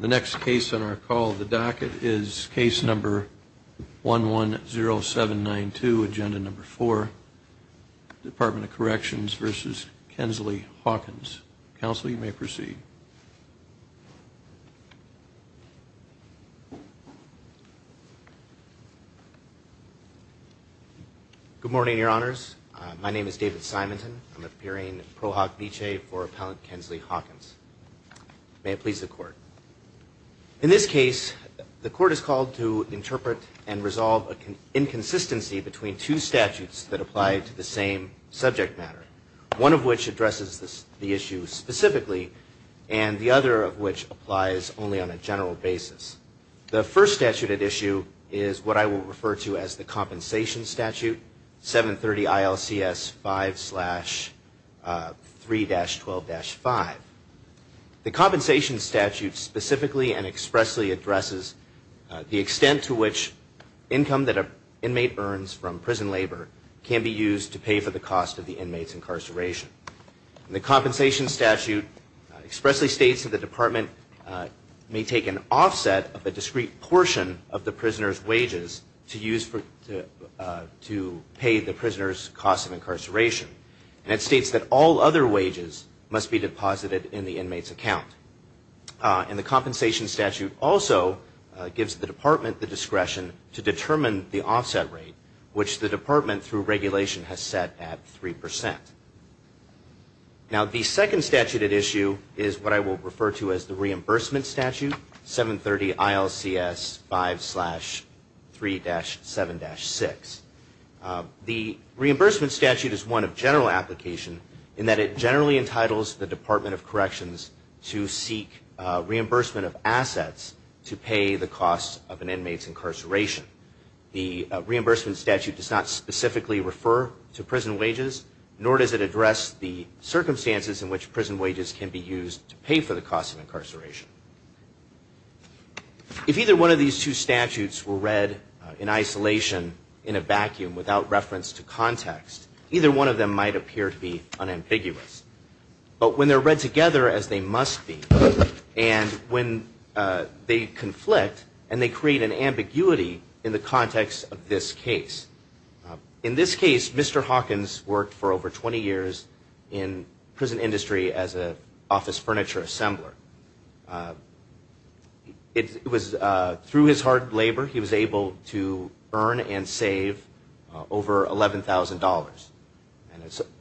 The next case on our call of the docket is case number 110792, agenda number four, Department of Corrections v. Kensley-Hawkins. Counsel, you may proceed. Good morning, Your Honors. My name is David Simonton. I'm appearing pro hoc vicee for Appellant Kensley-Hawkins. May it please the Court. In this case, the Court is called to interpret and resolve an inconsistency between two statutes that apply to the same subject matter, one of which addresses the issue specifically and the other of which applies only on a general basis. The first statute at issue is what I will refer to as the compensation statute, 730 ILCS 5-3-12-5. The compensation statute specifically and expressly addresses the extent to which income that an inmate earns from prison labor can be used to pay for the cost of the inmate's incarceration. The compensation statute expressly states that the Department may take an offset of a discrete portion of the prisoner's wages to pay the prisoner's cost of incarceration. And it states that all other wages must be deposited in the inmate's account. And the compensation statute also gives the Department the discretion to determine the offset rate, which the Department, through regulation, has set at 3 percent. Now, the second statute at issue is what I will refer to as the reimbursement statute, 730 ILCS 5-3-7-6. The reimbursement statute is one of general application in that it generally entitles the Department of Corrections to seek reimbursement of assets to pay the cost of an inmate's incarceration. The reimbursement statute does not specifically refer to prison wages, nor does it address the circumstances in which prison wages can be used to pay for the cost of incarceration. If either one of these two statutes were read in isolation, in a vacuum, without reference to context, either one of them might appear to be unambiguous. But when they're read together, as they must be, and when they conflict and they create an ambiguity in the context of this case. In this case, Mr. Hawkins worked for over 20 years in prison industry as an office furniture assembler. Through his hard labor, he was able to earn and save over $11,000.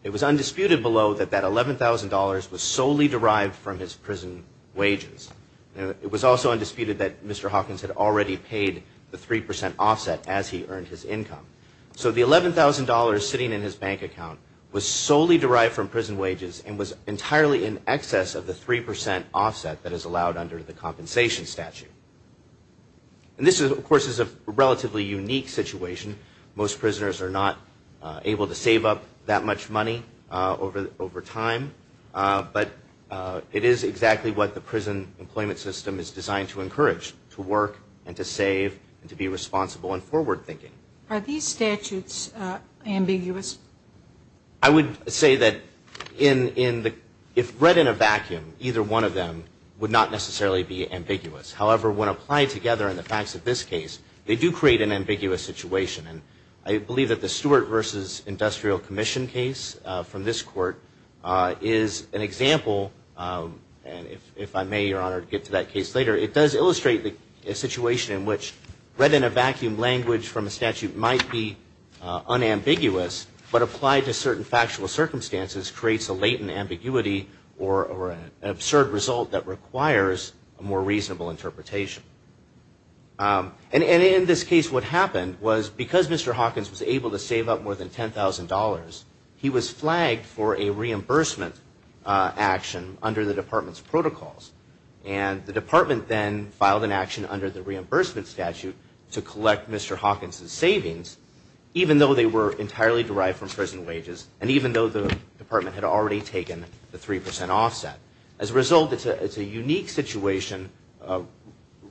It was undisputed below that that $11,000 was solely derived from his prison wages. It was also undisputed that Mr. Hawkins had already paid the 3 percent offset as he earned his income. So the $11,000 sitting in his bank account was solely derived from prison wages and was entirely in excess of the 3 percent offset that is allowed under the compensation statute. And this, of course, is a relatively unique situation. Most prisoners are not able to save up that much money over time, but it is exactly what the prison employment system is designed to encourage, to work and to save and to be responsible and forward thinking. Are these statutes ambiguous? I would say that if read in a vacuum, either one of them would not necessarily be ambiguous. However, when applied together in the facts of this case, they do create an ambiguous situation. I believe that the Stewart v. Industrial Commission case from this court is an example, and if I may, Your Honor, get to that case later, it does illustrate a situation in which read in a vacuum language from a statute might be unambiguous, but applied to certain factual circumstances creates a latent ambiguity or an absurd result that requires a more reasonable interpretation. And in this case, what happened was because Mr. Hawkins was able to save up more than $10,000, he was flagged for a reimbursement action under the department's protocols. And the department then filed an action under the reimbursement statute to collect Mr. Hawkins' savings, even though they were entirely derived from prison wages and even though the department had already taken the 3 percent offset. As a result, it's a unique situation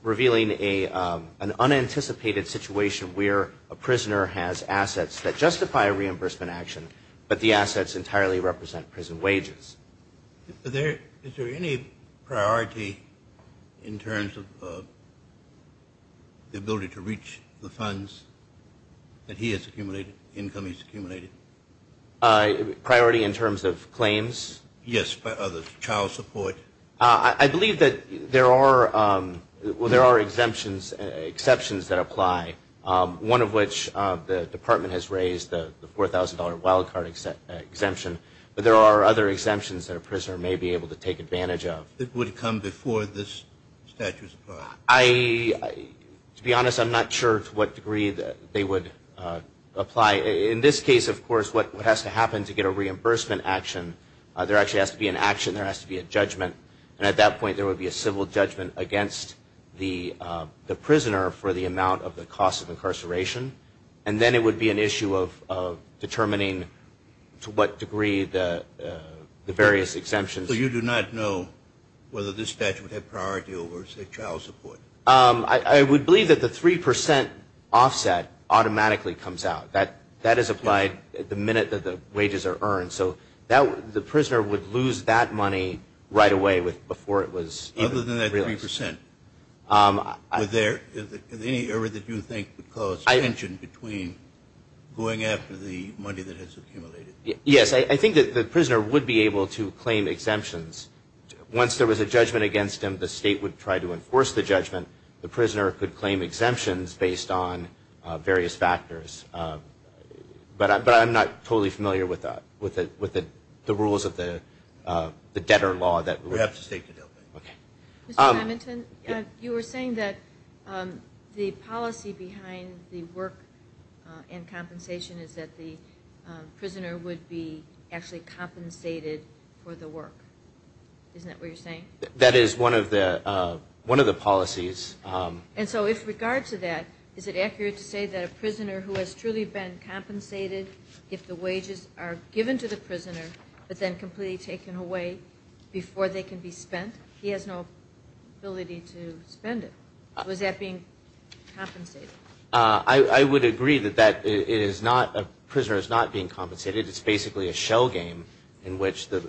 revealing an unanticipated situation where a prisoner has assets that justify a reimbursement action, but the assets entirely represent prison wages. Is there any priority in terms of the ability to reach the funds that he has accumulated, income he's accumulated? Priority in terms of claims? Yes, of the child support. I believe that there are exemptions that apply, one of which the department has raised, the $4,000 wild card exemption, but there are other exemptions that a prisoner may be able to take advantage of. It would come before this statute is applied? To be honest, I'm not sure to what degree they would apply. In this case, of course, what has to happen to get a reimbursement action, there actually has to be an action, there has to be a judgment, and at that point there would be a civil judgment against the prisoner for the amount of the cost of incarceration. And then it would be an issue of determining to what degree the various exemptions. So you do not know whether this statute would have priority over, say, child support? I would believe that the 3% offset automatically comes out. That is applied the minute that the wages are earned. So the prisoner would lose that money right away before it was realized. Other than that 3%, is there any area that you think would cause tension between going after the money that has accumulated? Yes, I think that the prisoner would be able to claim exemptions. Once there was a judgment against him, the state would try to enforce the judgment. The prisoner could claim exemptions based on various factors. But I'm not totally familiar with the rules of the debtor law. Mr. Hamilton, you were saying that the policy behind the work and compensation is that the prisoner would be actually compensated for the work. Isn't that what you're saying? That is one of the policies. And so with regard to that, is it accurate to say that a prisoner who has truly been compensated if the wages are given to the prisoner but then completely taken away before they can be spent? He has no ability to spend it. Was that being compensated? I would agree that a prisoner is not being compensated. It's basically a shell game in which the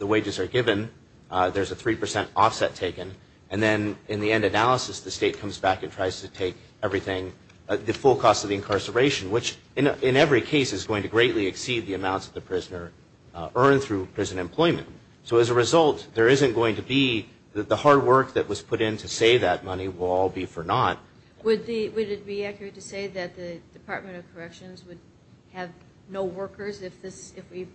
wages are given. There's a 3% offset taken. And then in the end analysis, the state comes back and tries to take everything, the full cost of the incarceration, which in every case is going to greatly exceed the amounts that the prisoner earned through prison employment. So as a result, there isn't going to be the hard work that was put in to save that money will all be for naught. Would it be accurate to say that the Department of Corrections would have no workers if we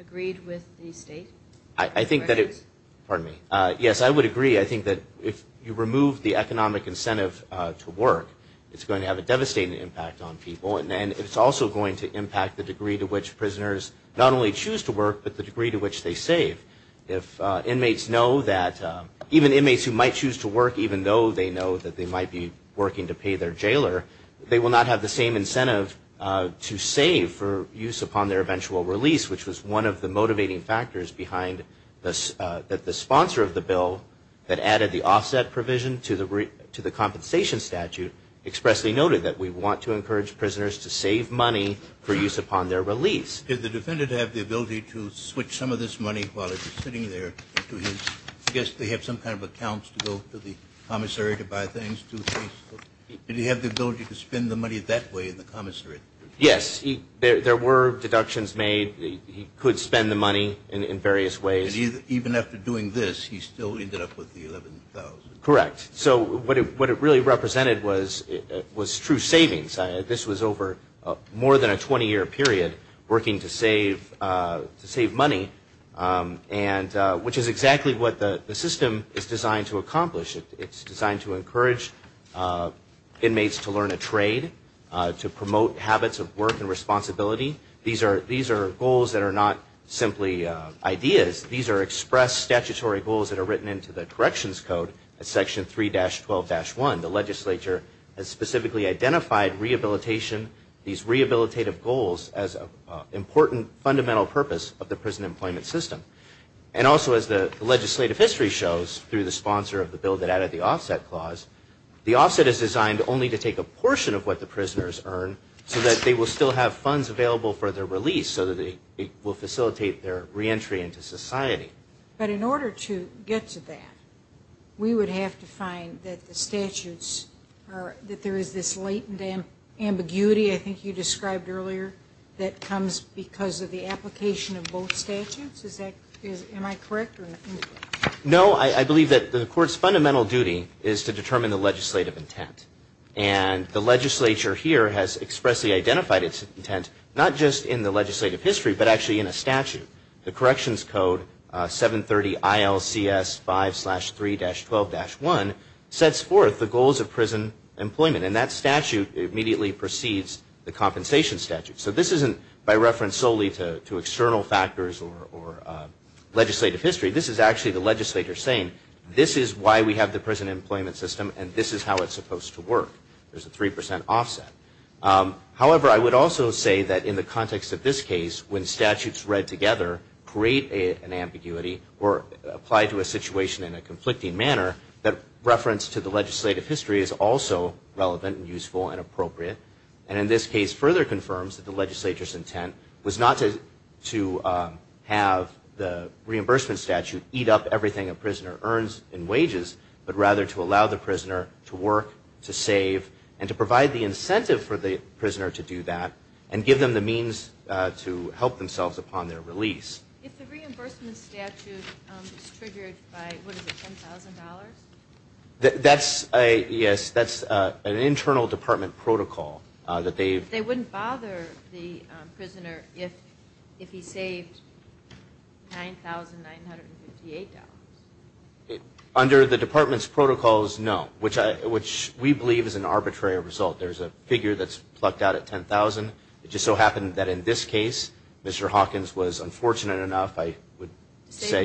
agreed with the state? I think that it's – pardon me. Yes, I would agree. I think that if you remove the economic incentive to work, it's going to have a devastating impact on people. And it's also going to impact the degree to which prisoners not only choose to work but the degree to which they save. If inmates know that – even inmates who might choose to work, even though they know that they might be working to pay their jailer, they will not have the same incentive to save for use upon their eventual release, which was one of the motivating factors behind the sponsor of the bill that added the offset provision to the compensation statute expressly noted that we want to encourage prisoners to save money for use upon their release. Did the defendant have the ability to switch some of this money while he was sitting there? I guess they have some kind of accounts to go to the commissary to buy things. Did he have the ability to spend the money that way in the commissary? Yes. There were deductions made. He could spend the money in various ways. Even after doing this, he still ended up with the $11,000. Correct. So what it really represented was true savings. This was over more than a 20-year period working to save money, which is exactly what the system is designed to accomplish. It's designed to encourage inmates to learn a trade, to promote habits of work and responsibility. These are goals that are not simply ideas. These are expressed statutory goals that are written into the corrections code at Section 3-12-1. The legislature has specifically identified rehabilitation, these rehabilitative goals as an important fundamental purpose of the prison employment system. And also as the legislative history shows through the sponsor of the bill that added the offset clause, the offset is designed only to take a portion of what the prisoners earn so that they will still have funds available for their release so that it will facilitate their reentry into society. But in order to get to that, we would have to find that the statutes are – that there is this latent ambiguity I think you described earlier that comes because of the application of both statutes. Is that – am I correct? No, I believe that the court's fundamental duty is to determine the legislative intent. And the legislature here has expressly identified its intent, not just in the legislative history but actually in a statute. The corrections code, 730 ILCS 5-3-12-1, sets forth the goals of prison employment. And that statute immediately precedes the compensation statute. So this isn't by reference solely to external factors or legislative history. This is actually the legislature saying, this is why we have the prison employment system and this is how it's supposed to work. There's a 3 percent offset. However, I would also say that in the context of this case, when statutes read together create an ambiguity or apply to a situation in a conflicting manner, and in this case further confirms that the legislature's intent was not to have the reimbursement statute eat up everything a prisoner earns in wages, but rather to allow the prisoner to work, to save, and to provide the incentive for the prisoner to do that and give them the means to help themselves upon their release. If the reimbursement statute is triggered by, what is it, $10,000? That's, yes, that's an internal department protocol that they've They wouldn't bother the prisoner if he saved $9,958. Under the department's protocols, no, which we believe is an arbitrary result. There's a figure that's plucked out at $10,000. It just so happened that in this case, Mr. Hawkins was unfortunate enough, I would say, To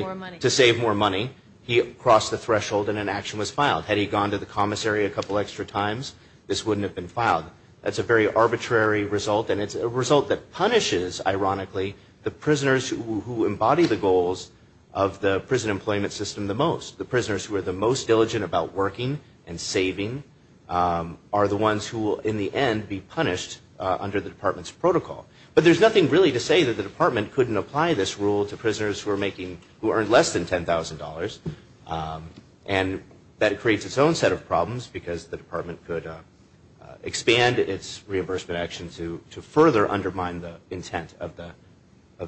save more money. He crossed the threshold and an action was filed. Had he gone to the commissary a couple extra times, this wouldn't have been filed. That's a very arbitrary result, and it's a result that punishes, ironically, the prisoners who embody the goals of the prison employment system the most. The prisoners who are the most diligent about working and saving are the ones who will, in the end, be punished under the department's protocol. But there's nothing really to say that the department couldn't apply this rule to prisoners who earned less than $10,000, and that creates its own set of problems because the department could expand its reimbursement action to further undermine the intent of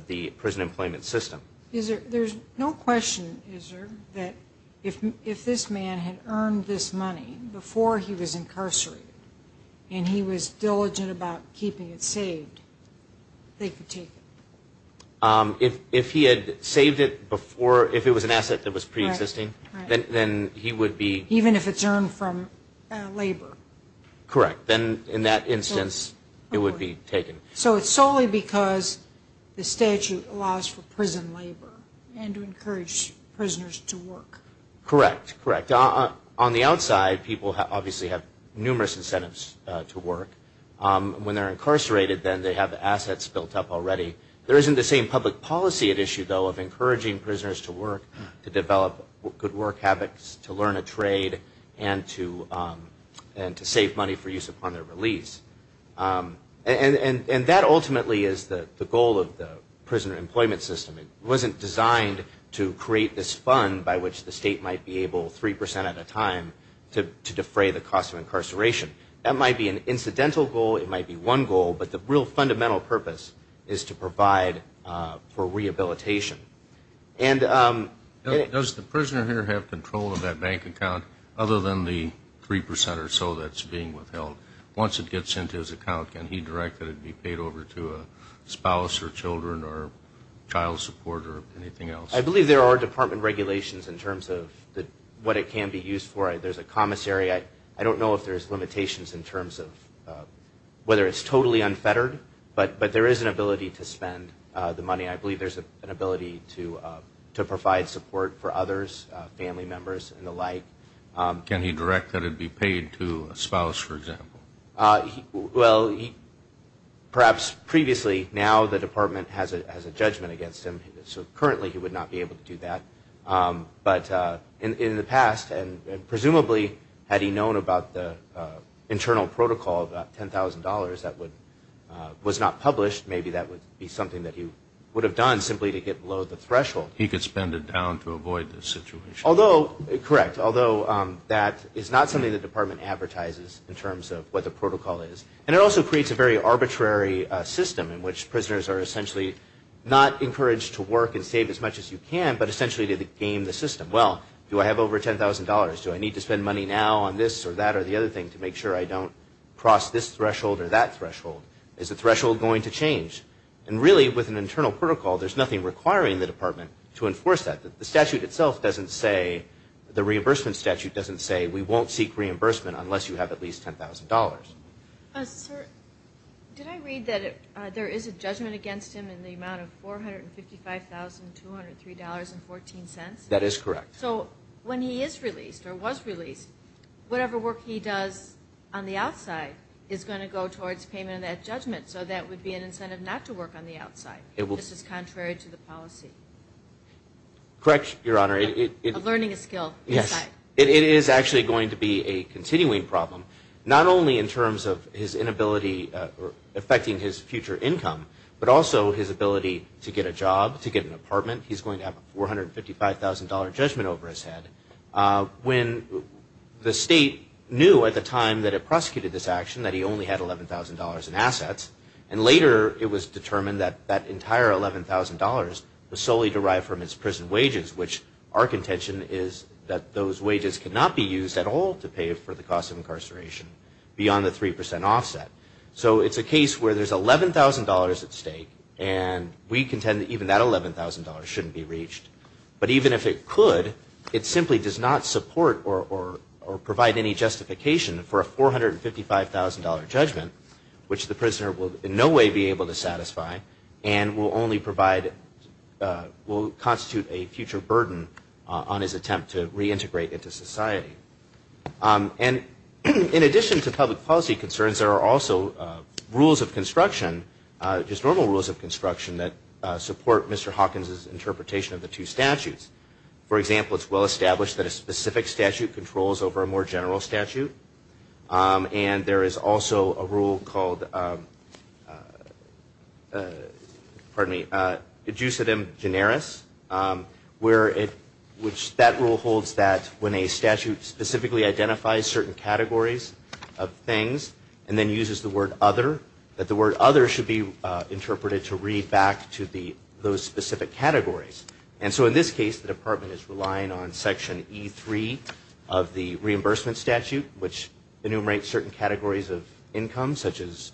the prison employment system. There's no question, is there, that if this man had earned this money before he was incarcerated and he was diligent about keeping it saved, they could take it? If he had saved it before, if it was an asset that was preexisting, then he would be... Even if it's earned from labor? Correct. Then, in that instance, it would be taken. So it's solely because the statute allows for prison labor and to encourage prisoners to work. Correct, correct. On the outside, people obviously have numerous incentives to work. When they're incarcerated, then, they have assets built up already. There isn't the same public policy at issue, though, of encouraging prisoners to work, to develop good work habits, to learn a trade, and to save money for use upon their release. And that ultimately is the goal of the prisoner employment system. It wasn't designed to create this fund by which the state might be able, 3% at a time, to defray the cost of incarceration. That might be an incidental goal, it might be one goal, but the real fundamental purpose is to provide for rehabilitation. Does the prisoner here have control of that bank account other than the 3% or so that's being withheld? Once it gets into his account, can he direct that it be paid over to a spouse or children or child support or anything else? I believe there are department regulations in terms of what it can be used for. There's a commissary. I don't know if there's limitations in terms of whether it's totally unfettered, but there is an ability to spend the money. I believe there's an ability to provide support for others, family members and the like. Can he direct that it be paid to a spouse, for example? Well, perhaps previously, now the department has a judgment against him, so currently he would not be able to do that. But in the past, and presumably had he known about the internal protocol of $10,000 that was not published, maybe that would be something that he would have done simply to get below the threshold. He could spend it down to avoid the situation. Correct, although that is not something the department advertises in terms of what the protocol is. And it also creates a very arbitrary system in which prisoners are essentially not encouraged to work and save as much as you can, but essentially to game the system. Well, do I have over $10,000? Do I need to spend money now on this or that or the other thing to make sure I don't cross this threshold or that threshold? Is the threshold going to change? And really, with an internal protocol, there's nothing requiring the department to enforce that. The statute itself doesn't say, the reimbursement statute doesn't say, Sir, did I read that there is a judgment against him in the amount of $455,203.14? That is correct. So when he is released or was released, whatever work he does on the outside is going to go towards payment of that judgment, so that would be an incentive not to work on the outside. This is contrary to the policy. Correct, Your Honor. Of learning a skill inside. Yes, it is actually going to be a continuing problem. Not only in terms of his inability affecting his future income, but also his ability to get a job, to get an apartment. He's going to have a $455,000 judgment over his head. When the state knew at the time that it prosecuted this action that he only had $11,000 in assets, and later it was determined that that entire $11,000 was solely derived from his prison wages, which our contention is that those wages cannot be used at all to pay for the cost of incarceration beyond the 3% offset. So it's a case where there's $11,000 at stake, and we contend that even that $11,000 shouldn't be reached. But even if it could, it simply does not support or provide any justification for a $455,000 judgment, which the prisoner will in no way be able to satisfy, and will constitute a future burden on his attempt to reintegrate into society. And in addition to public policy concerns, there are also rules of construction, just normal rules of construction that support Mr. Hawkins's interpretation of the two statutes. For example, it's well established that a specific statute controls over a more general statute, and there is also a rule called, pardon me, adjucitum generis, which that rule holds that when a statute specifically identifies certain categories of things, and then uses the word other, that the word other should be interpreted to read back to those specific categories. And so in this case, the department is relying on section E3 of the reimbursement statute, which enumerates certain categories of income, such as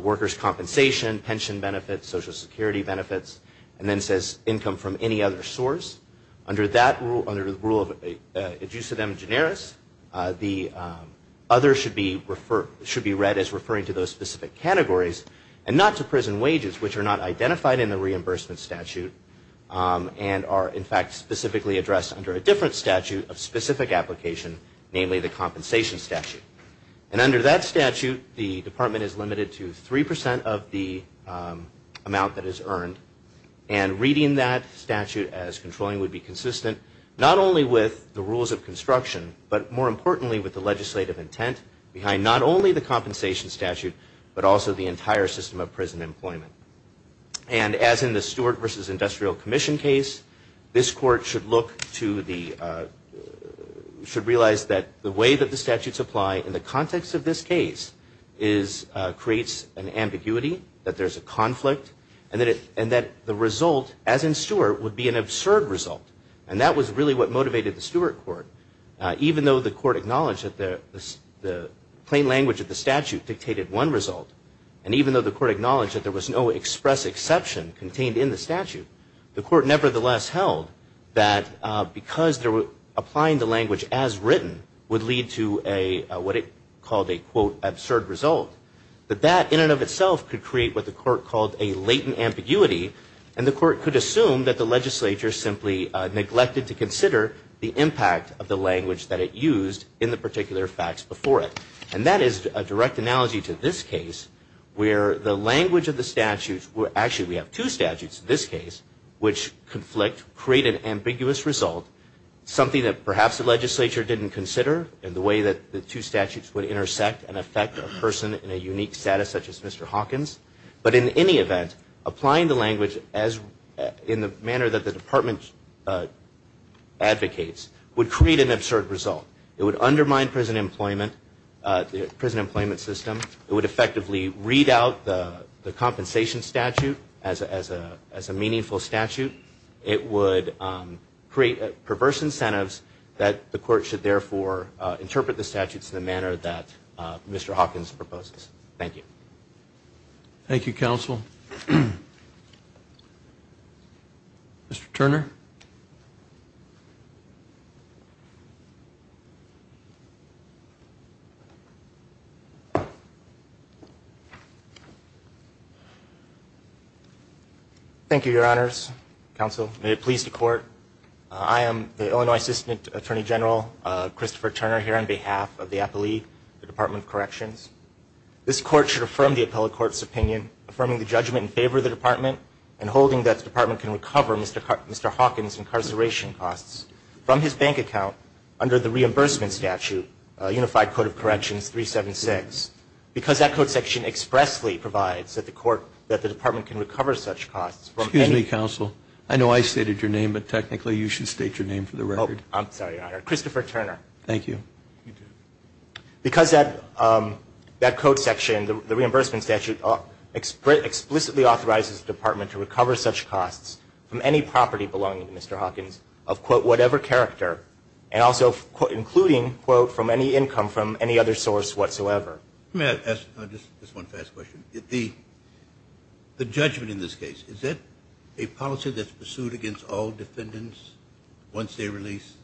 workers' compensation, pension benefits, social security benefits, and then says income from any other source. Under the rule of adjucitum generis, the other should be read as referring to those specific categories, and not to prison wages, which are not identified in the reimbursement statute, and are in fact specifically addressed under a different statute of specific application, namely the compensation statute. And under that statute, the department is limited to 3% of the amount that is earned, and reading that statute as controlling would be consistent not only with the rules of construction, but more importantly with the legislative intent behind not only the compensation statute, but also the entire system of prison employment. And as in the Stewart v. Industrial Commission case, this court should look to the, should realize that the way that the statutes apply in the context of this case creates an ambiguity, that there's a conflict, and that the result, as in Stewart, would be an absurd result. And that was really what motivated the Stewart court, even though the court acknowledged that the plain language of the statute dictated one result, and even though the court acknowledged that there was no express exception contained in the statute, the court nevertheless held that because they were applying the language as written would lead to a, what it called a, quote, absurd result. But that in and of itself could create what the court called a latent ambiguity, and the court could assume that the legislature simply neglected to consider the impact of the language that it used in the particular facts before it. And that is a direct analogy to this case, where the language of the statutes were, actually we have two statutes in this case, which conflict, create an ambiguous result, something that perhaps the legislature didn't consider in the way that the two statutes would intersect and affect a person in a unique status such as Mr. Hawkins. But in any event, applying the language in the manner that the department advocates would create an absurd result. It would undermine prison employment, the prison employment system. It would effectively read out the compensation statute as a meaningful statute. It would create perverse incentives that the court should, therefore, interpret the statutes in the manner that Mr. Hawkins proposes. Thank you. Thank you, Counsel. Mr. Turner. Thank you, Your Honors. Counsel, may it please the court, I am the Illinois Assistant Attorney General, Christopher Turner, here on behalf of the appellee, the Department of Corrections. This court should affirm the appellate court's opinion, affirming the judgment in favor of the department, and holding that the department can recover Mr. Hawkins' incarceration costs from his bank account under the reimbursement statute, Unified Code of Corrections 376, because that code section expressly provides that the court, that the department can recover such costs. Excuse me, Counsel. I know I stated your name, but technically you should state your name for the record. I'm sorry, Your Honor. Christopher Turner. Thank you. Because that code section, the reimbursement statute, explicitly authorizes the department to recover such costs from any property belonging to Mr. Hawkins of, quote, whatever character, and also including, quote, from any income from any other source whatsoever. May I ask just one fast question? The judgment in this case, is it a policy that's pursued against all defendants once they're released,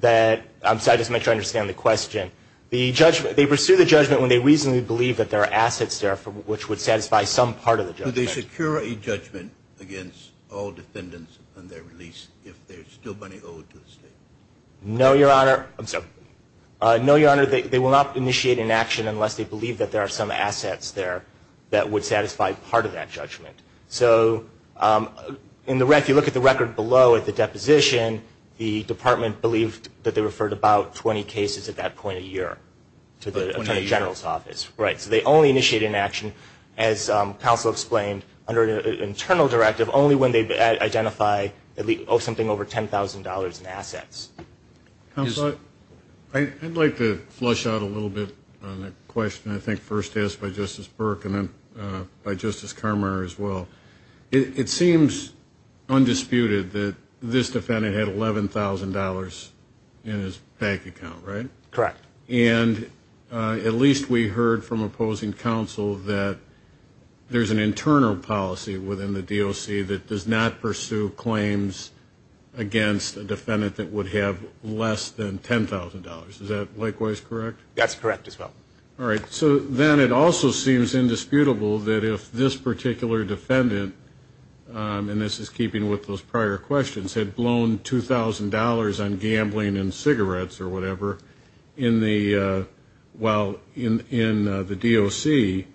that I'm sorry, just to make sure I understand the question. The judgment, they pursue the judgment when they reasonably believe that there are assets there, which would satisfy some part of the judgment. Do they secure a judgment against all defendants on their release if there's still money owed to the state? No, Your Honor. I'm sorry. No, Your Honor. They will not initiate an action unless they believe that there are some assets there that would satisfy part of that judgment. So if you look at the record below at the deposition, the department believed that they referred about 20 cases at that point a year to the Attorney General's office. Right. So they only initiated an action, as counsel explained, under an internal directive, only when they identify something over $10,000 in assets. Counselor, I'd like to flush out a little bit on the question I think first asked by Justice Burke and then by Justice Kramer as well. It seems undisputed that this defendant had $11,000 in his bank account, right? Correct. And at least we heard from opposing counsel that there's an internal policy within the DOC that does not pursue claims against a defendant that would have less than $10,000. Is that likewise correct? That's correct as well. All right. So then it also seems indisputable that if this particular defendant, and this is keeping with those prior questions, had blown $2,000 on gambling and cigarettes or whatever in the DOC,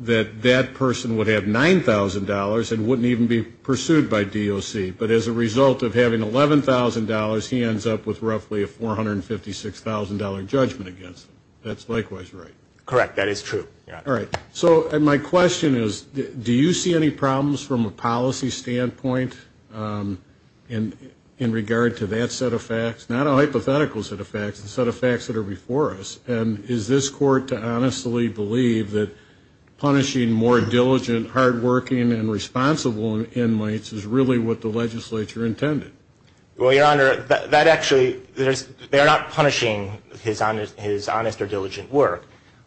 that that person would have $9,000 and wouldn't even be pursued by DOC. But as a result of having $11,000, he ends up with roughly a $456,000 judgment against him. That's likewise right? Correct. That is true. All right. So my question is, do you see any problems from a policy standpoint in regard to that set of facts? Not a hypothetical set of facts, the set of facts that are before us. And is this court to honestly believe that punishing more diligent, hardworking, and responsible inmates is really what the legislature intended? Well, Your Honor, that actually, they're not punishing his honest or diligent work.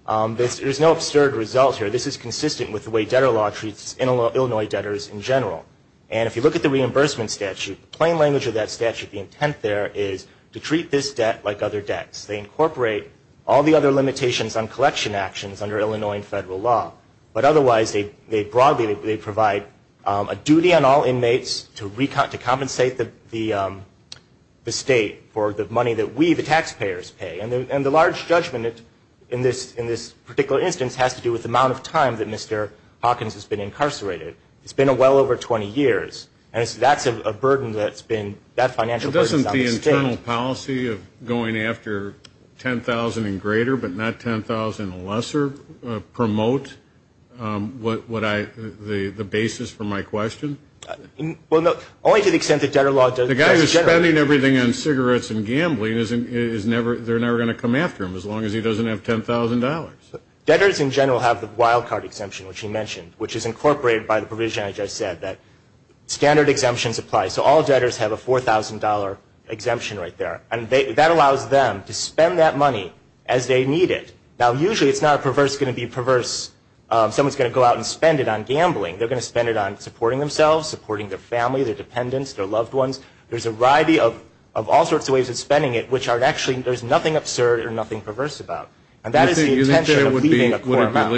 There's no absurd result here. This is consistent with the way debtor law treats Illinois debtors in general. And if you look at the reimbursement statute, plain language of that statute, the intent there is to treat this debt like other debts. They incorporate all the other limitations on collection actions under Illinois federal law. But otherwise, they broadly provide a duty on all inmates to compensate the state for the money that we, the taxpayers, pay. And the large judgment in this particular instance has to do with the amount of time that Mr. Hawkins has been incarcerated. It's been well over 20 years. And that's a burden that's been, that financial burden is on the state. Does the internal policy of going after $10,000 and greater but not $10,000 and lesser promote what I, the basis for my question? Well, no, only to the extent that debtor law does in general. The guy who's spending everything on cigarettes and gambling is never, they're never going to come after him as long as he doesn't have $10,000. Debtors in general have the wild card exemption, which he mentioned, which is incorporated by the provision I just said that standard exemptions apply. So all debtors have a $4,000 exemption right there. And that allows them to spend that money as they need it. Now, usually it's not a perverse going to be perverse. Someone's going to go out and spend it on gambling. They're going to spend it on supporting themselves, supporting their family, their dependents, their loved ones. There's a variety of all sorts of ways of spending it, which are actually, there's nothing absurd or nothing perverse about. And that is the intention of leaving a poor amount.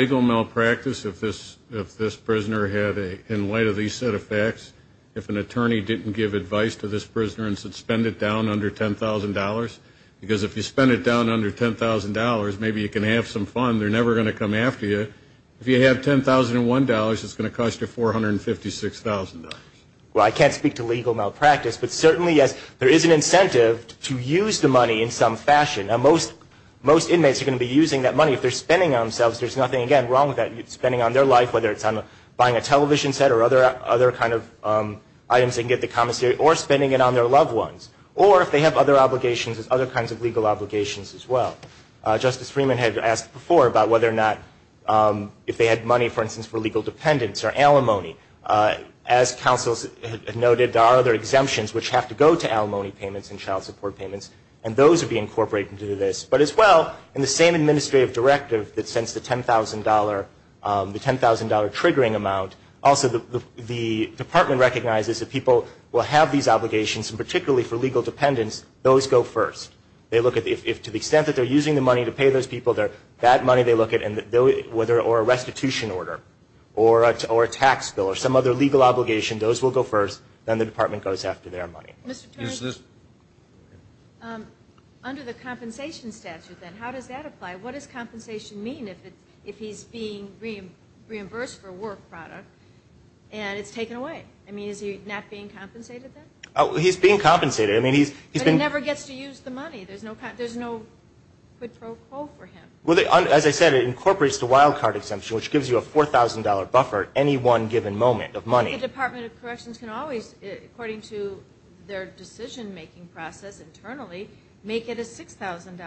If this prisoner had a, in light of these set of facts, if an attorney didn't give advice to this prisoner and said spend it down under $10,000, because if you spend it down under $10,000, maybe you can have some fun. They're never going to come after you. If you have $10,001, it's going to cost you $456,000. Well, I can't speak to legal malpractice, but certainly there is an incentive to use the money in some fashion. Now, most inmates are going to be using that money. If they're spending it on themselves, there's nothing, again, wrong with that. You're spending it on their life, whether it's on buying a television set or other kind of items they can get at the commissary, or spending it on their loved ones. Or if they have other obligations, there's other kinds of legal obligations as well. Justice Freeman had asked before about whether or not if they had money, for instance, for legal dependents or alimony. As counsels have noted, there are other exemptions which have to go to alimony payments and child support payments, and those would be incorporated into this. But as well, in the same administrative directive that sends the $10,000 triggering amount, also the department recognizes that people will have these obligations, and particularly for legal dependents, those go first. If to the extent that they're using the money to pay those people, that money they look at, or a restitution order or a tax bill or some other legal obligation, those will go first. Then the department goes after their money. Mr. Turner, under the compensation statute then, how does that apply? What does compensation mean if he's being reimbursed for a work product and it's taken away? I mean, is he not being compensated then? He's being compensated. But he never gets to use the money. There's no quid pro quo for him. As I said, it incorporates the wild card exemption, which gives you a $4,000 buffer at any one given moment of money. I think the Department of Corrections can always, according to their decision-making process internally, make it a $6,000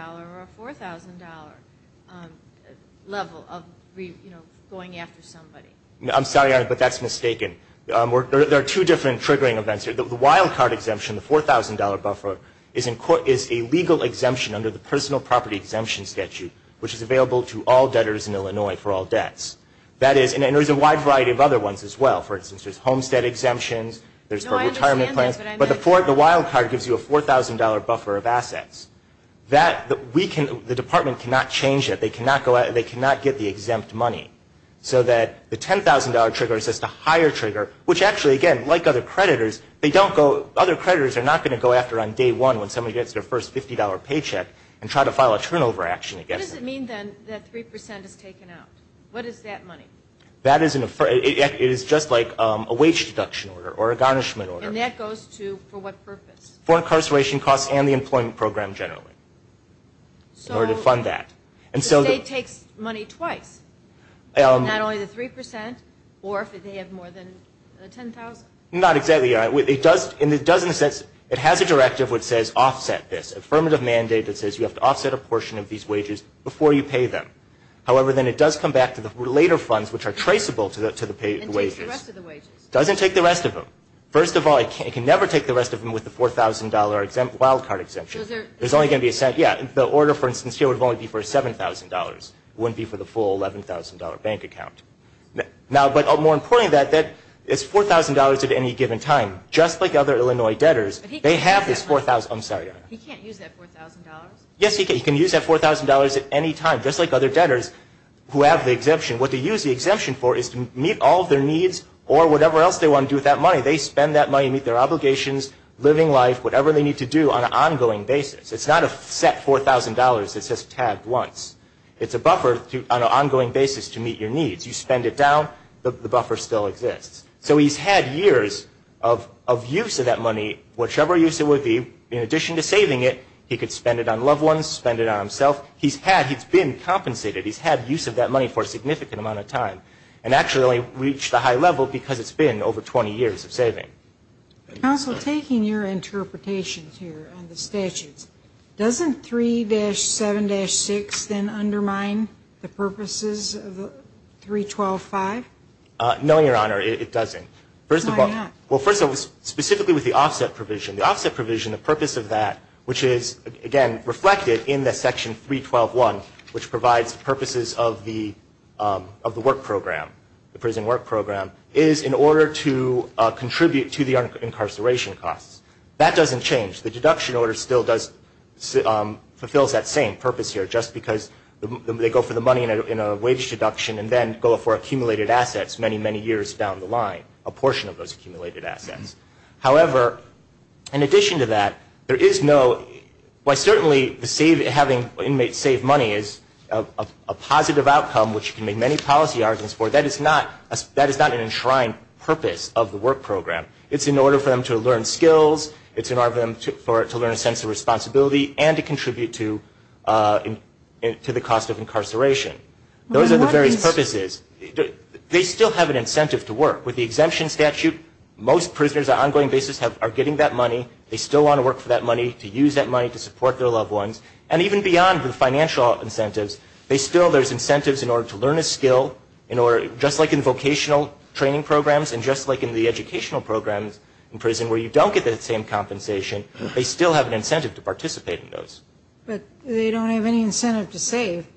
or a $4,000 level of going after somebody. I'm sorry, Your Honor, but that's mistaken. There are two different triggering events here. The wild card exemption, the $4,000 buffer, is a legal exemption under the personal property exemption statute, which is available to all debtors in Illinois for all debts. And there's a wide variety of other ones as well. For instance, there's homestead exemptions. There's retirement plans. But the wild card gives you a $4,000 buffer of assets. The Department cannot change that. They cannot get the exempt money. So the $10,000 trigger is just a higher trigger, which actually, again, like other creditors, other creditors are not going to go after on day one when somebody gets their first $50 paycheck and try to file a turnover action against them. What does it mean, then, that 3% is taken out? What is that money? That is just like a wage deduction order or a garnishment order. And that goes to for what purpose? For incarceration costs and the employment program generally in order to fund that. So the state takes money twice, not only the 3% or if they have more than $10,000? Not exactly, Your Honor. It does, in a sense, it has a directive which says offset this, affirmative mandate that says you have to offset a portion of these wages before you pay them. However, then it does come back to the later funds, which are traceable to the wages. And takes the rest of the wages. It doesn't take the rest of them. First of all, it can never take the rest of them with the $4,000 wildcard exemption. There's only going to be a cent. Yeah, the order, for instance, here would only be for $7,000. It wouldn't be for the full $11,000 bank account. Now, but more importantly than that, it's $4,000 at any given time. Just like other Illinois debtors, they have this $4,000. I'm sorry, Your Honor. He can't use that $4,000? Yes, he can. He can use that $4,000 at any time, just like other debtors who have the exemption. What they use the exemption for is to meet all of their needs or whatever else they want to do with that money. They spend that money to meet their obligations, living life, whatever they need to do on an ongoing basis. It's not a set $4,000 that's just tagged once. It's a buffer on an ongoing basis to meet your needs. You spend it down, the buffer still exists. So he's had years of use of that money, whichever use it would be. In addition to saving it, he could spend it on loved ones, spend it on himself. He's been compensated. He's had use of that money for a significant amount of time and actually only reached the high level because it's been over 20 years of saving. Counsel, taking your interpretations here on the statutes, doesn't 3-7-6 then undermine the purposes of the 3-12-5? No, Your Honor, it doesn't. Why not? Well, first of all, specifically with the offset provision. The offset provision, the purpose of that, which is, again, reflected in the Section 3-12-1, which provides purposes of the work program, the prison work program, is in order to contribute to the incarceration costs. That doesn't change. The deduction order still fulfills that same purpose here, just because they go for the money in a wage deduction and then go for accumulated assets many, many years down the line, a portion of those accumulated assets. However, in addition to that, there is no ñ while certainly having inmates save money is a positive outcome, which you can make many policy arguments for, that is not an enshrined purpose of the work program. It's in order for them to learn skills. It's in order for them to learn a sense of responsibility and to contribute to the cost of incarceration. Those are the various purposes. They still have an incentive to work. With the exemption statute, most prisoners on an ongoing basis are getting that money. They still want to work for that money, to use that money to support their loved ones. And even beyond the financial incentives, they still ñ there's incentives in order to learn a skill, in order ñ just like in vocational training programs and just like in the educational programs in prison where you don't get the same compensation, they still have an incentive to participate in those. But they don't have any incentive to save.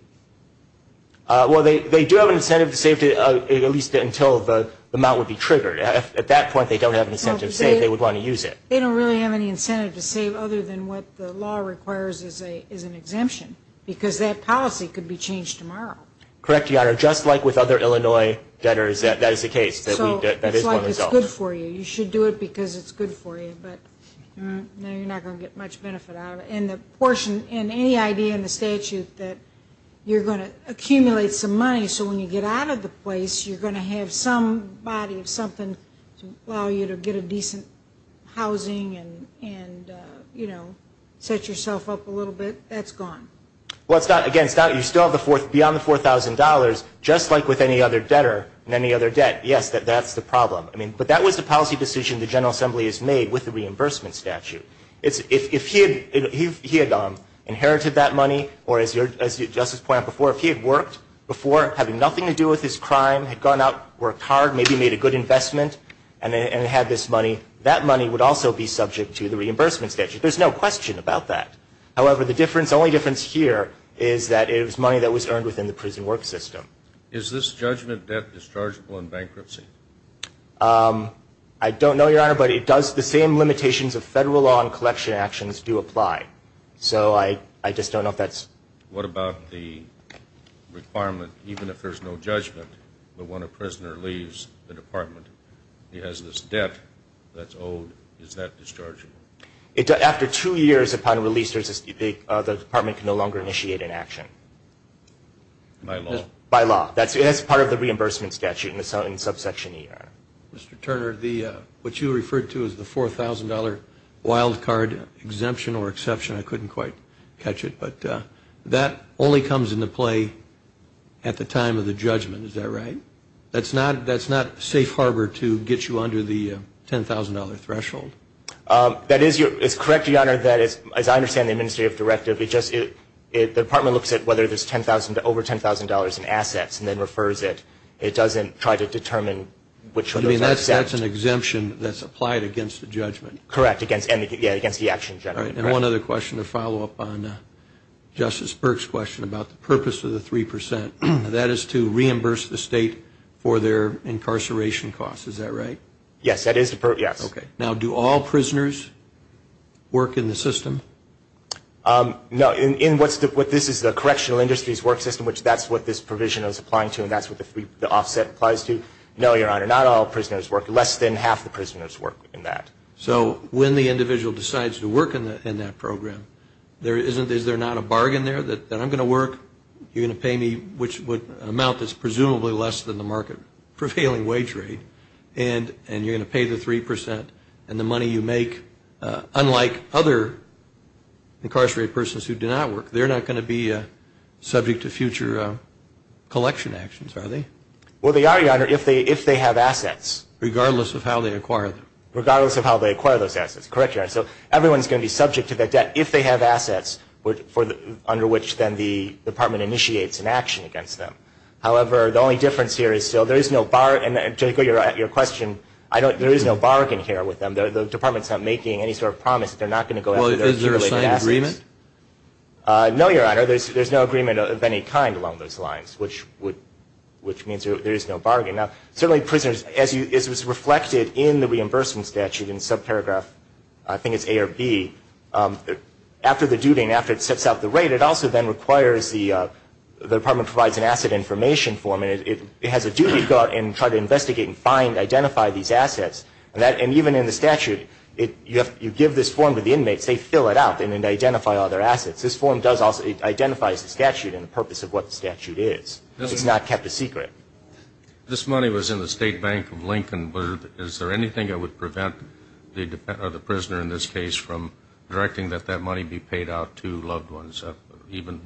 Well, they do have an incentive to save, at least until the amount would be triggered. At that point, they don't have an incentive to save. They would want to use it. They don't really have any incentive to save other than what the law requires is an exemption because that policy could be changed tomorrow. Correct, Your Honor. Just like with other Illinois debtors, that is the case. So it's like it's good for you. You should do it because it's good for you, but no, you're not going to get much benefit out of it. And the portion ñ and any idea in the statute that you're going to accumulate some money so when you get out of the place, you're going to have some body of something to allow you to get a decent housing and, you know, set yourself up a little bit, that's gone. Well, it's not ñ again, it's not ñ you still have the ñ beyond the $4,000, just like with any other debtor and any other debt, yes, that's the problem. I mean, but that was the policy decision the General Assembly has made with the reimbursement statute. If he had inherited that money or, as Justice Point out before, if he had worked before having nothing to do with his crime, had gone out, worked hard, maybe made a good investment and had this money, that money would also be subject to the reimbursement statute. There's no question about that. However, the difference ñ the only difference here is that it was money that was earned within the prison work system. Is this judgment debt dischargeable in bankruptcy? I don't know, Your Honor, but it does ñ the same limitations of federal law and collection actions do apply. So I just don't know if that's ñ What about the requirement, even if there's no judgment, that when a prisoner leaves the department, he has this debt that's owed, is that dischargeable? After two years upon release, the department can no longer initiate an action. By law? By law. That's part of the reimbursement statute in the subsection ER. Mr. Turner, what you referred to as the $4,000 wildcard exemption or exception, I couldn't quite catch it, but that only comes into play at the time of the judgment, is that right? That's not safe harbor to get you under the $10,000 threshold? That is correct, Your Honor. As I understand the administrative directive, the department looks at whether there's over $10,000 in assets and then refers it. It doesn't try to determine which of those are exempt. You mean that's an exemption that's applied against the judgment? Correct, against the action generally. All right, and one other question to follow up on Justice Burke's question about the purpose of the 3 percent. That is to reimburse the state for their incarceration costs, is that right? Yes, that is the purpose, yes. Okay, now do all prisoners work in the system? No, this is the correctional industries work system, which that's what this provision is applying to, and that's what the offset applies to. No, Your Honor, not all prisoners work, less than half the prisoners work in that. So when the individual decides to work in that program, is there not a bargain there that I'm going to work, you're going to pay me an amount that's presumably less than the market prevailing wage rate, and you're going to pay the 3 percent, and the money you make, unlike other incarcerated persons who do not work, they're not going to be subject to future collection actions, are they? Well, they are, Your Honor, if they have assets. Regardless of how they acquire them. Regardless of how they acquire those assets, correct, Your Honor. So everyone's going to be subject to that debt if they have assets, under which then the department initiates an action against them. However, the only difference here is still there is no bargain, and to echo your question, there is no bargain here with them. The department's not making any sort of promise that they're not going to go after those assets. Well, is there a signed agreement? No, Your Honor, there's no agreement of any kind along those lines, which means there is no bargain. Now, certainly prisoners, as was reflected in the reimbursement statute in subparagraph, I think it's A or B, after the duty and after it sets out the rate, it also then requires the department provides an asset information form, and it has a duty to go out and try to investigate and find, identify these assets. And even in the statute, you give this form to the inmates, they fill it out, and then identify all their assets. This form does also, it identifies the statute and the purpose of what the statute is. It's not kept a secret. This money was in the State Bank of Lincoln, but is there anything that would prevent the prisoner in this case from directing that that money be paid out to loved ones, even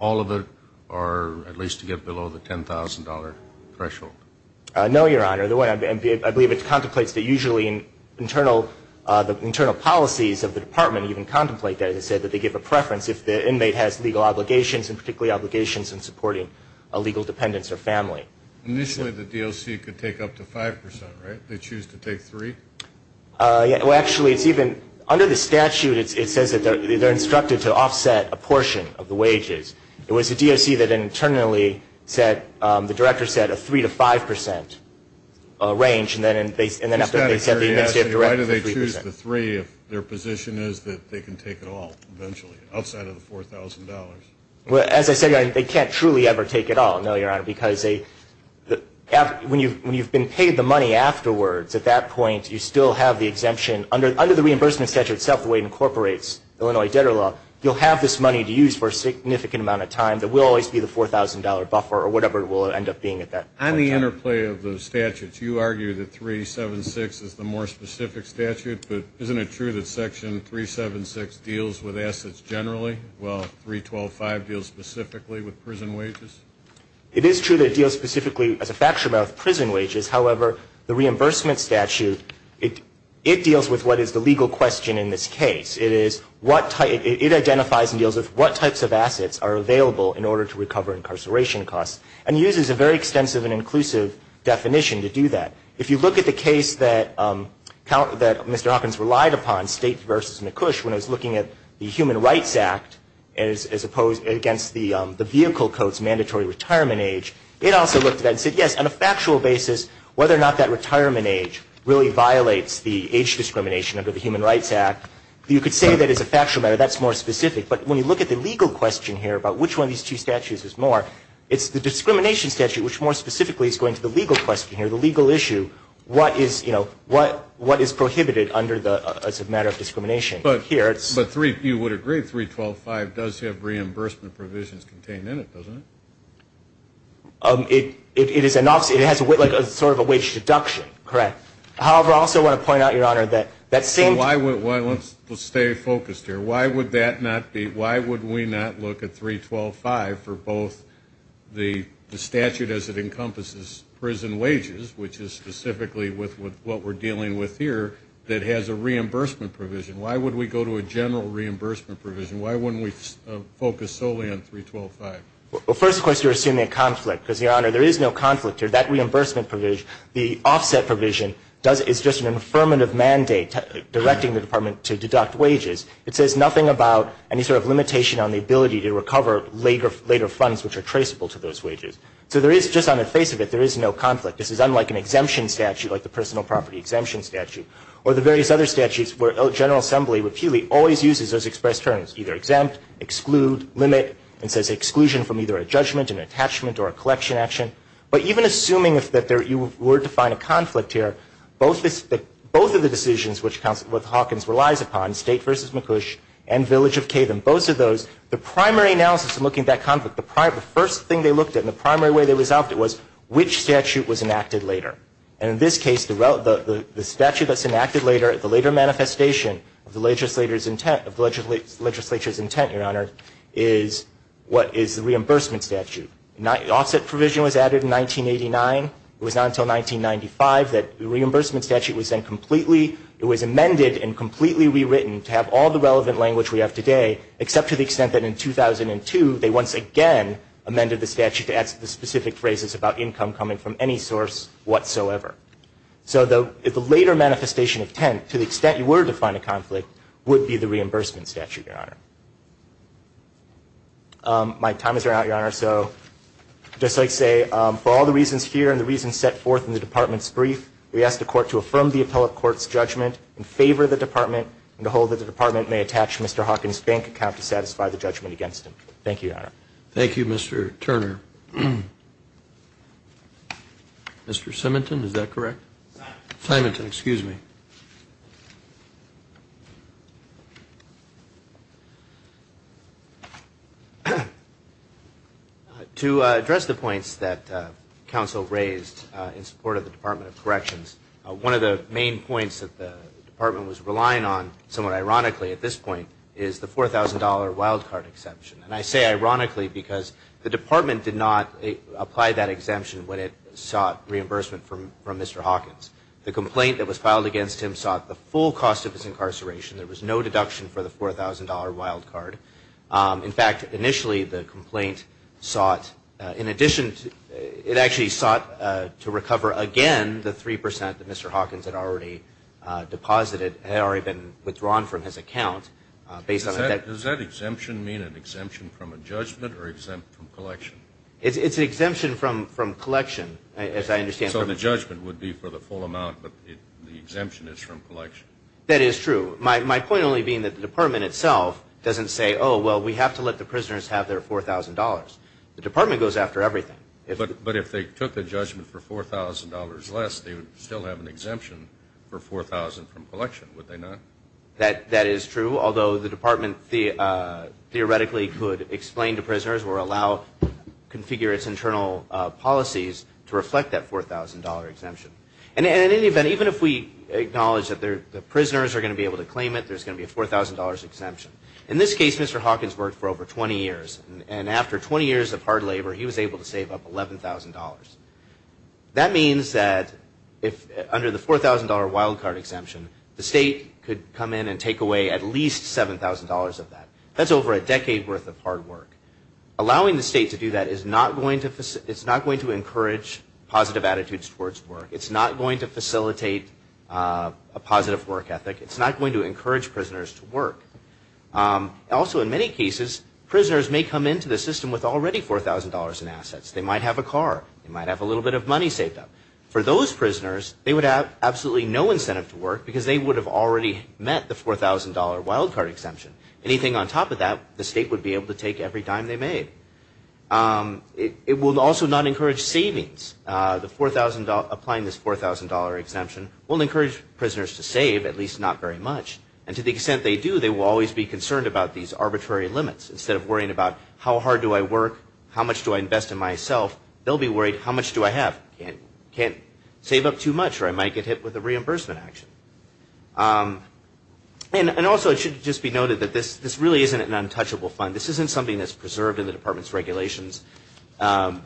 all of it, or at least to get below the $10,000 threshold? No, Your Honor. I believe it contemplates that usually the internal policies of the department even contemplate that. They say that they give a preference if the inmate has legal obligations, and particularly obligations in supporting legal dependents or family. Initially, the DOC could take up to 5 percent, right? They choose to take 3? Well, actually, it's even, under the statute, it says that they're instructed to offset a portion of the wages. It was the DOC that internally said, the director said, a 3 to 5 percent range, and then after they said that, the administrative director said 3 percent. Why do they choose the 3 if their position is that they can take it all eventually, outside of the $4,000? Well, as I said, Your Honor, they can't truly ever take it all, no, Your Honor, because when you've been paid the money afterwards, at that point, you still have the exemption. Under the reimbursement statute itself, the way it incorporates Illinois debtor law, you'll have this money to use for a significant amount of time that will always be the $4,000 buffer or whatever it will end up being at that point. On the interplay of the statutes, you argue that 376 is the more specific statute, but isn't it true that Section 376 deals with assets generally, while 312.5 deals specifically with prison wages? It is true that it deals specifically, as a factor, with prison wages. However, the reimbursement statute, it deals with what is the legal question in this case. It identifies and deals with what types of assets are available in order to recover incarceration costs and uses a very extensive and inclusive definition to do that. If you look at the case that Mr. Hawkins relied upon, State v. McCush, when it was looking at the Human Rights Act as opposed against the vehicle code's mandatory retirement age, it also looked at that and said, yes, on a factual basis, whether or not that retirement age really violates the age discrimination under the Human Rights Act, you could say that it's a factual matter. That's more specific. But when you look at the legal question here about which one of these two statutes is more, it's the discrimination statute which, more specifically, is going to the legal question here, the legal issue, what is, you know, what is prohibited as a matter of discrimination. But three, you would agree, 312.5 does have reimbursement provisions contained in it, doesn't it? It has sort of a wage deduction, correct. However, I also want to point out, Your Honor, that seems Let's stay focused here. Why would we not look at 312.5 for both the statute as it encompasses prison wages, which is specifically what we're dealing with here, that has a reimbursement provision? Why would we go to a general reimbursement provision? Why wouldn't we focus solely on 312.5? Well, first, of course, you're assuming a conflict. Because, Your Honor, there is no conflict here. That reimbursement provision, the offset provision, is just an affirmative mandate directing the Department to deduct wages. It says nothing about any sort of limitation on the ability to recover later funds which are traceable to those wages. So there is, just on the face of it, there is no conflict. This is unlike an exemption statute like the personal property exemption statute or the various other statutes where General Assembly repeatedly always uses those expressed terms, either exempt, exclude, limit, and says exclusion from either a judgment, an attachment, or a collection action. But even assuming that you were to find a conflict here, both of the decisions which Hawkins relies upon, State v. McCush and Village of Caton, both of those, the primary analysis in looking at that conflict, the first thing they looked at and the primary way they resolved it was which statute was enacted later. And in this case, the statute that's enacted later at the later manifestation of the legislature's intent, Your Honor, is what is the reimbursement statute. The offset provision was added in 1989. It was not until 1995 that the reimbursement statute was then completely, it was amended and completely rewritten to have all the relevant language we have today, except to the extent that in 2002, they once again amended the statute to add the specific phrases about income coming from any source whatsoever. So the later manifestation of intent, to the extent you were to find a conflict, would be the reimbursement statute, Your Honor. My time is out, Your Honor, so just like I say, for all the reasons here and the reasons set forth in the Department's brief, we ask the Court to affirm the appellate court's judgment in favor of the Department and to hold that the Department may attach Mr. Hawkins' bank account to satisfy the judgment against him. Thank you, Your Honor. Thank you, Mr. Turner. Mr. Simington, is that correct? Simington, excuse me. To address the points that counsel raised in support of the Department of Corrections, one of the main points that the Department was relying on, somewhat ironically at this point, is the $4,000 wildcard exception. And I say ironically because the Department did not apply that exemption when it sought reimbursement from Mr. Hawkins. The complaint that was filed against him sought the full cost of his incarceration. There was no deduction for the $4,000 wildcard. In fact, initially the complaint sought, in addition, it actually sought to recover, again, the 3% that Mr. Hawkins had already deposited, had already been withdrawn from his account. Does that exemption mean an exemption from a judgment or exempt from collection? It's an exemption from collection, as I understand. So the judgment would be for the full amount, but the exemption is from collection. That is true. My point only being that the Department itself doesn't say, oh, well, we have to let the prisoners have their $4,000. The Department goes after everything. But if they took a judgment for $4,000 less, they would still have an exemption for $4,000 from collection, would they not? That is true, although the Department theoretically could explain to prisoners or allow, configure its internal policies to reflect that $4,000 exemption. And in any event, even if we acknowledge that the prisoners are going to be able to claim it, there's going to be a $4,000 exemption. In this case, Mr. Hawkins worked for over 20 years. And after 20 years of hard labor, he was able to save up $11,000. That means that under the $4,000 wildcard exemption, the state could come in and take away at least $7,000 of that. That's over a decade worth of hard work. Allowing the state to do that is not going to encourage positive attitudes towards work. It's not going to facilitate a positive work ethic. It's not going to encourage prisoners to work. Also, in many cases, prisoners may come into the system with already $4,000 in assets. They might have a car. They might have a little bit of money saved up. For those prisoners, they would have absolutely no incentive to work because they would have already met the $4,000 wildcard exemption. Anything on top of that, the state would be able to take every dime they made. It will also not encourage savings. Applying this $4,000 exemption will encourage prisoners to save, at least not very much. And to the extent they do, they will always be concerned about these arbitrary limits. Instead of worrying about how hard do I work, how much do I invest in myself, they'll be worried how much do I have. Can't save up too much or I might get hit with a reimbursement action. Also, it should just be noted that this really isn't an untouchable fund. This isn't something that's preserved in the department's regulations.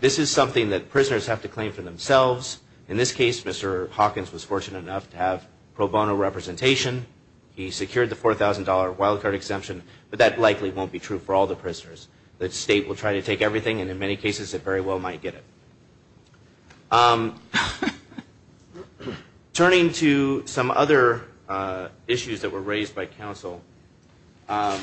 This is something that prisoners have to claim for themselves. In this case, Mr. Hawkins was fortunate enough to have pro bono representation. He secured the $4,000 wildcard exemption, but that likely won't be true for all the prisoners. The state will try to take everything, and in many cases it very well might get it. Turning to some other issues that were raised by counsel, the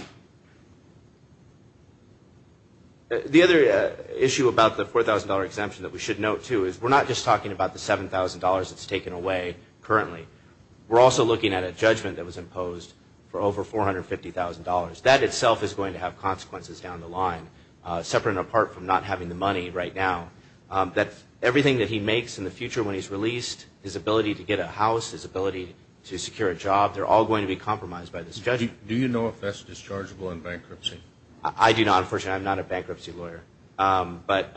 other issue about the $4,000 exemption that we should note, too, is we're not just talking about the $7,000 that's taken away currently. We're also looking at a judgment that was imposed for over $450,000. That itself is going to have consequences down the line, separate and apart from not having the money right now. Everything that he makes in the future when he's released, his ability to get a house, his ability to secure a job, they're all going to be compromised by this judgment. Do you know if that's dischargeable in bankruptcy? I do not, unfortunately. I'm not a bankruptcy lawyer. But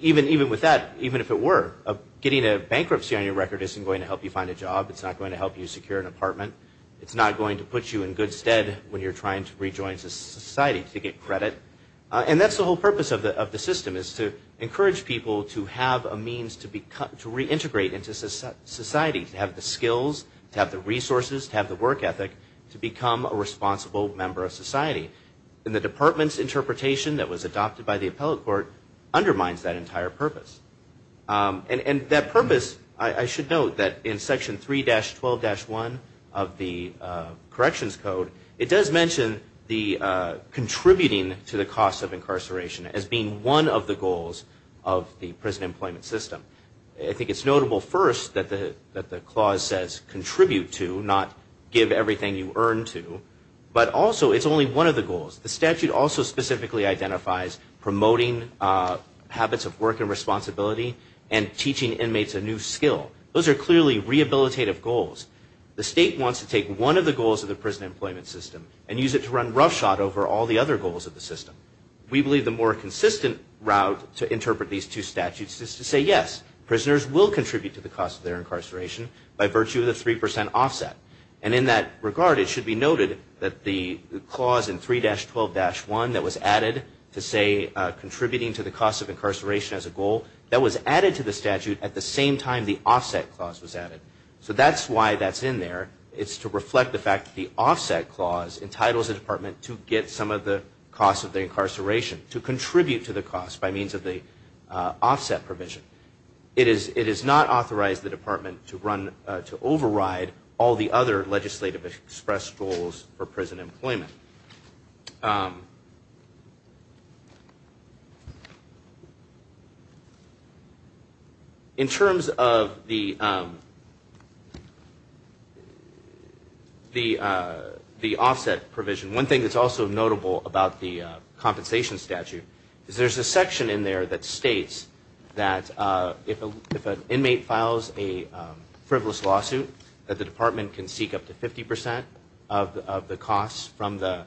even with that, even if it were, getting a bankruptcy on your record isn't going to help you find a job. It's not going to help you secure an apartment. It's not going to put you in good stead when you're trying to rejoin society to get credit. And that's the whole purpose of the system, is to encourage people to have a means to reintegrate into society, to have the skills, to have the resources, to have the work ethic, to become a responsible member of society. And the department's interpretation that was adopted by the appellate court undermines that entire purpose. And that purpose, I should note that in Section 3-12-1 of the Corrections Code, it does mention the contributing to the cost of incarceration as being one of the goals of the prison employment system. I think it's notable first that the clause says contribute to, not give everything you earn to. But also, it's only one of the goals. The statute also specifically identifies promoting habits of work and responsibility and teaching inmates a new skill. Those are clearly rehabilitative goals. The state wants to take one of the goals of the prison employment system and use it to run roughshod over all the other goals of the system. We believe the more consistent route to interpret these two statutes is to say, yes, prisoners will contribute to the cost of their incarceration by virtue of the 3 percent offset. And in that regard, it should be noted that the clause in 3-12-1 that was added to say, contributing to the cost of incarceration as a goal, that was added to the statute at the same time the offset clause was added. So that's why that's in there. It's to reflect the fact that the offset clause entitles a department to get some of the cost of the incarceration, to contribute to the cost by means of the offset provision. It does not authorize the department to override all the other legislative express goals for prison employment. In terms of the offset provision, one thing that's also notable about the compensation statute is there's a section in there that states that if an inmate files a frivolous lawsuit, that the department can seek up to 50 percent of the costs from the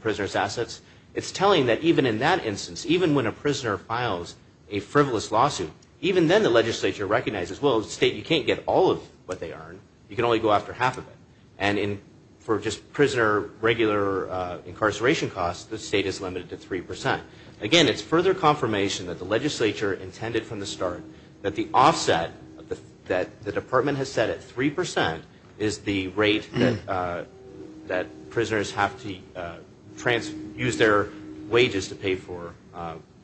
prisoner's assets. It's telling that even in that instance, even when a prisoner files a frivolous lawsuit, even then the legislature recognizes, well, the state, you can't get all of what they earn. You can only go after half of it. And for just prisoner regular incarceration costs, the state is limited to 3 percent. Again, it's further confirmation that the legislature intended from the start that the offset that the department has set at 3 percent is the rate that prisoners have to use their wages to pay for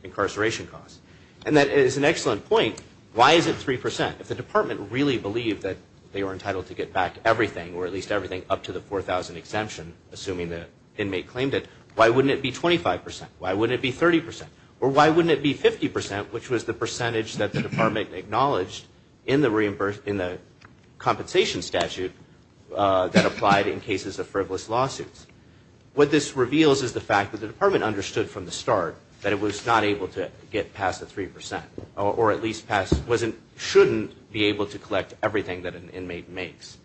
incarceration costs. And that is an excellent point. Why is it 3 percent? If the department really believed that they were entitled to get back everything, or at least everything up to the 4,000 exemption, assuming the inmate claimed it, why wouldn't it be 25 percent? Why wouldn't it be 30 percent? Or why wouldn't it be 50 percent, which was the percentage that the department acknowledged in the compensation statute that applied in cases of frivolous lawsuits? What this reveals is the fact that the department understood from the start that it was not able to get past the 3 percent, or at least shouldn't be able to collect everything that an inmate makes.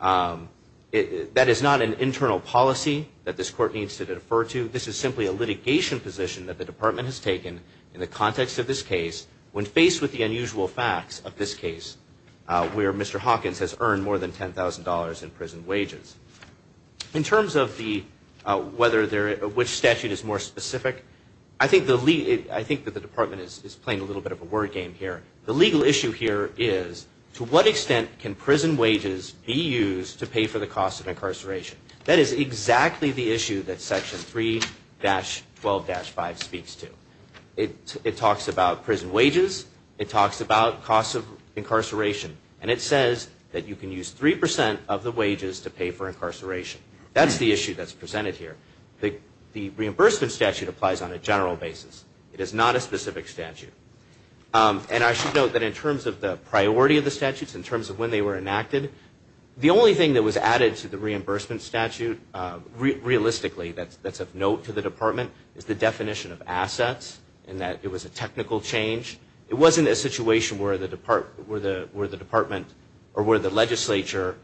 That is not an internal policy that this court needs to defer to. This is simply a litigation position that the department has taken in the context of this case when faced with the unusual facts of this case where Mr. Hawkins has earned more than $10,000 in prison wages. In terms of which statute is more specific, I think that the department is playing a little bit of a word game here. The legal issue here is to what extent can prison wages be used to pay for the cost of incarceration? That is exactly the issue that Section 3-12-5 speaks to. It talks about prison wages. It talks about cost of incarceration. And it says that you can use 3 percent of the wages to pay for incarceration. That's the issue that's presented here. The reimbursement statute applies on a general basis. It is not a specific statute. And I should note that in terms of the priority of the statutes, in terms of when they were enacted, the only thing that was added to the reimbursement statute realistically that's of note to the department is the definition of assets and that it was a technical change. It wasn't a situation where the department or where the legislature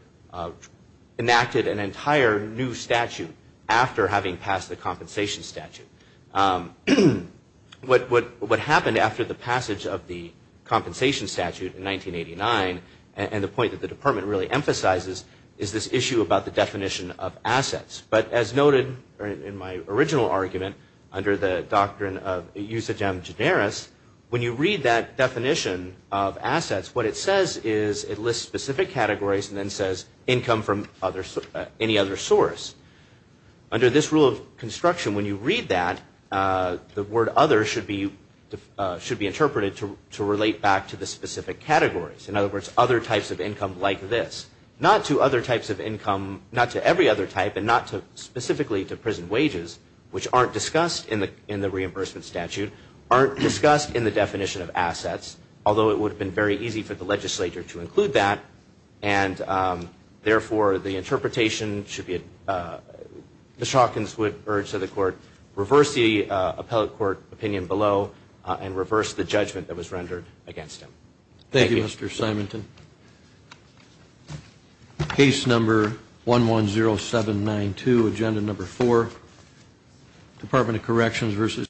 enacted an entire new statute after having passed the compensation statute. What happened after the passage of the compensation statute in 1989, and the point that the department really emphasizes, is this issue about the definition of assets. But as noted in my original argument under the doctrine of Usagem Generis, when you read that definition of assets, what it says is it lists specific categories and then says income from any other source. Under this rule of construction, when you read that, the word other should be interpreted to relate back to the specific categories. In other words, other types of income like this. Not to other types of income, not to every other type, and not specifically to prison wages, which aren't discussed in the reimbursement statute, aren't discussed in the definition of assets, although it would have been very easy for the legislature to include that. Therefore, the interpretation should be, Ms. Hawkins would urge that the court reverse the appellate court opinion below and reverse the judgment that was rendered against him. Thank you, Mr. Simonton. Case number 110792, agenda number four, Department of Corrections v.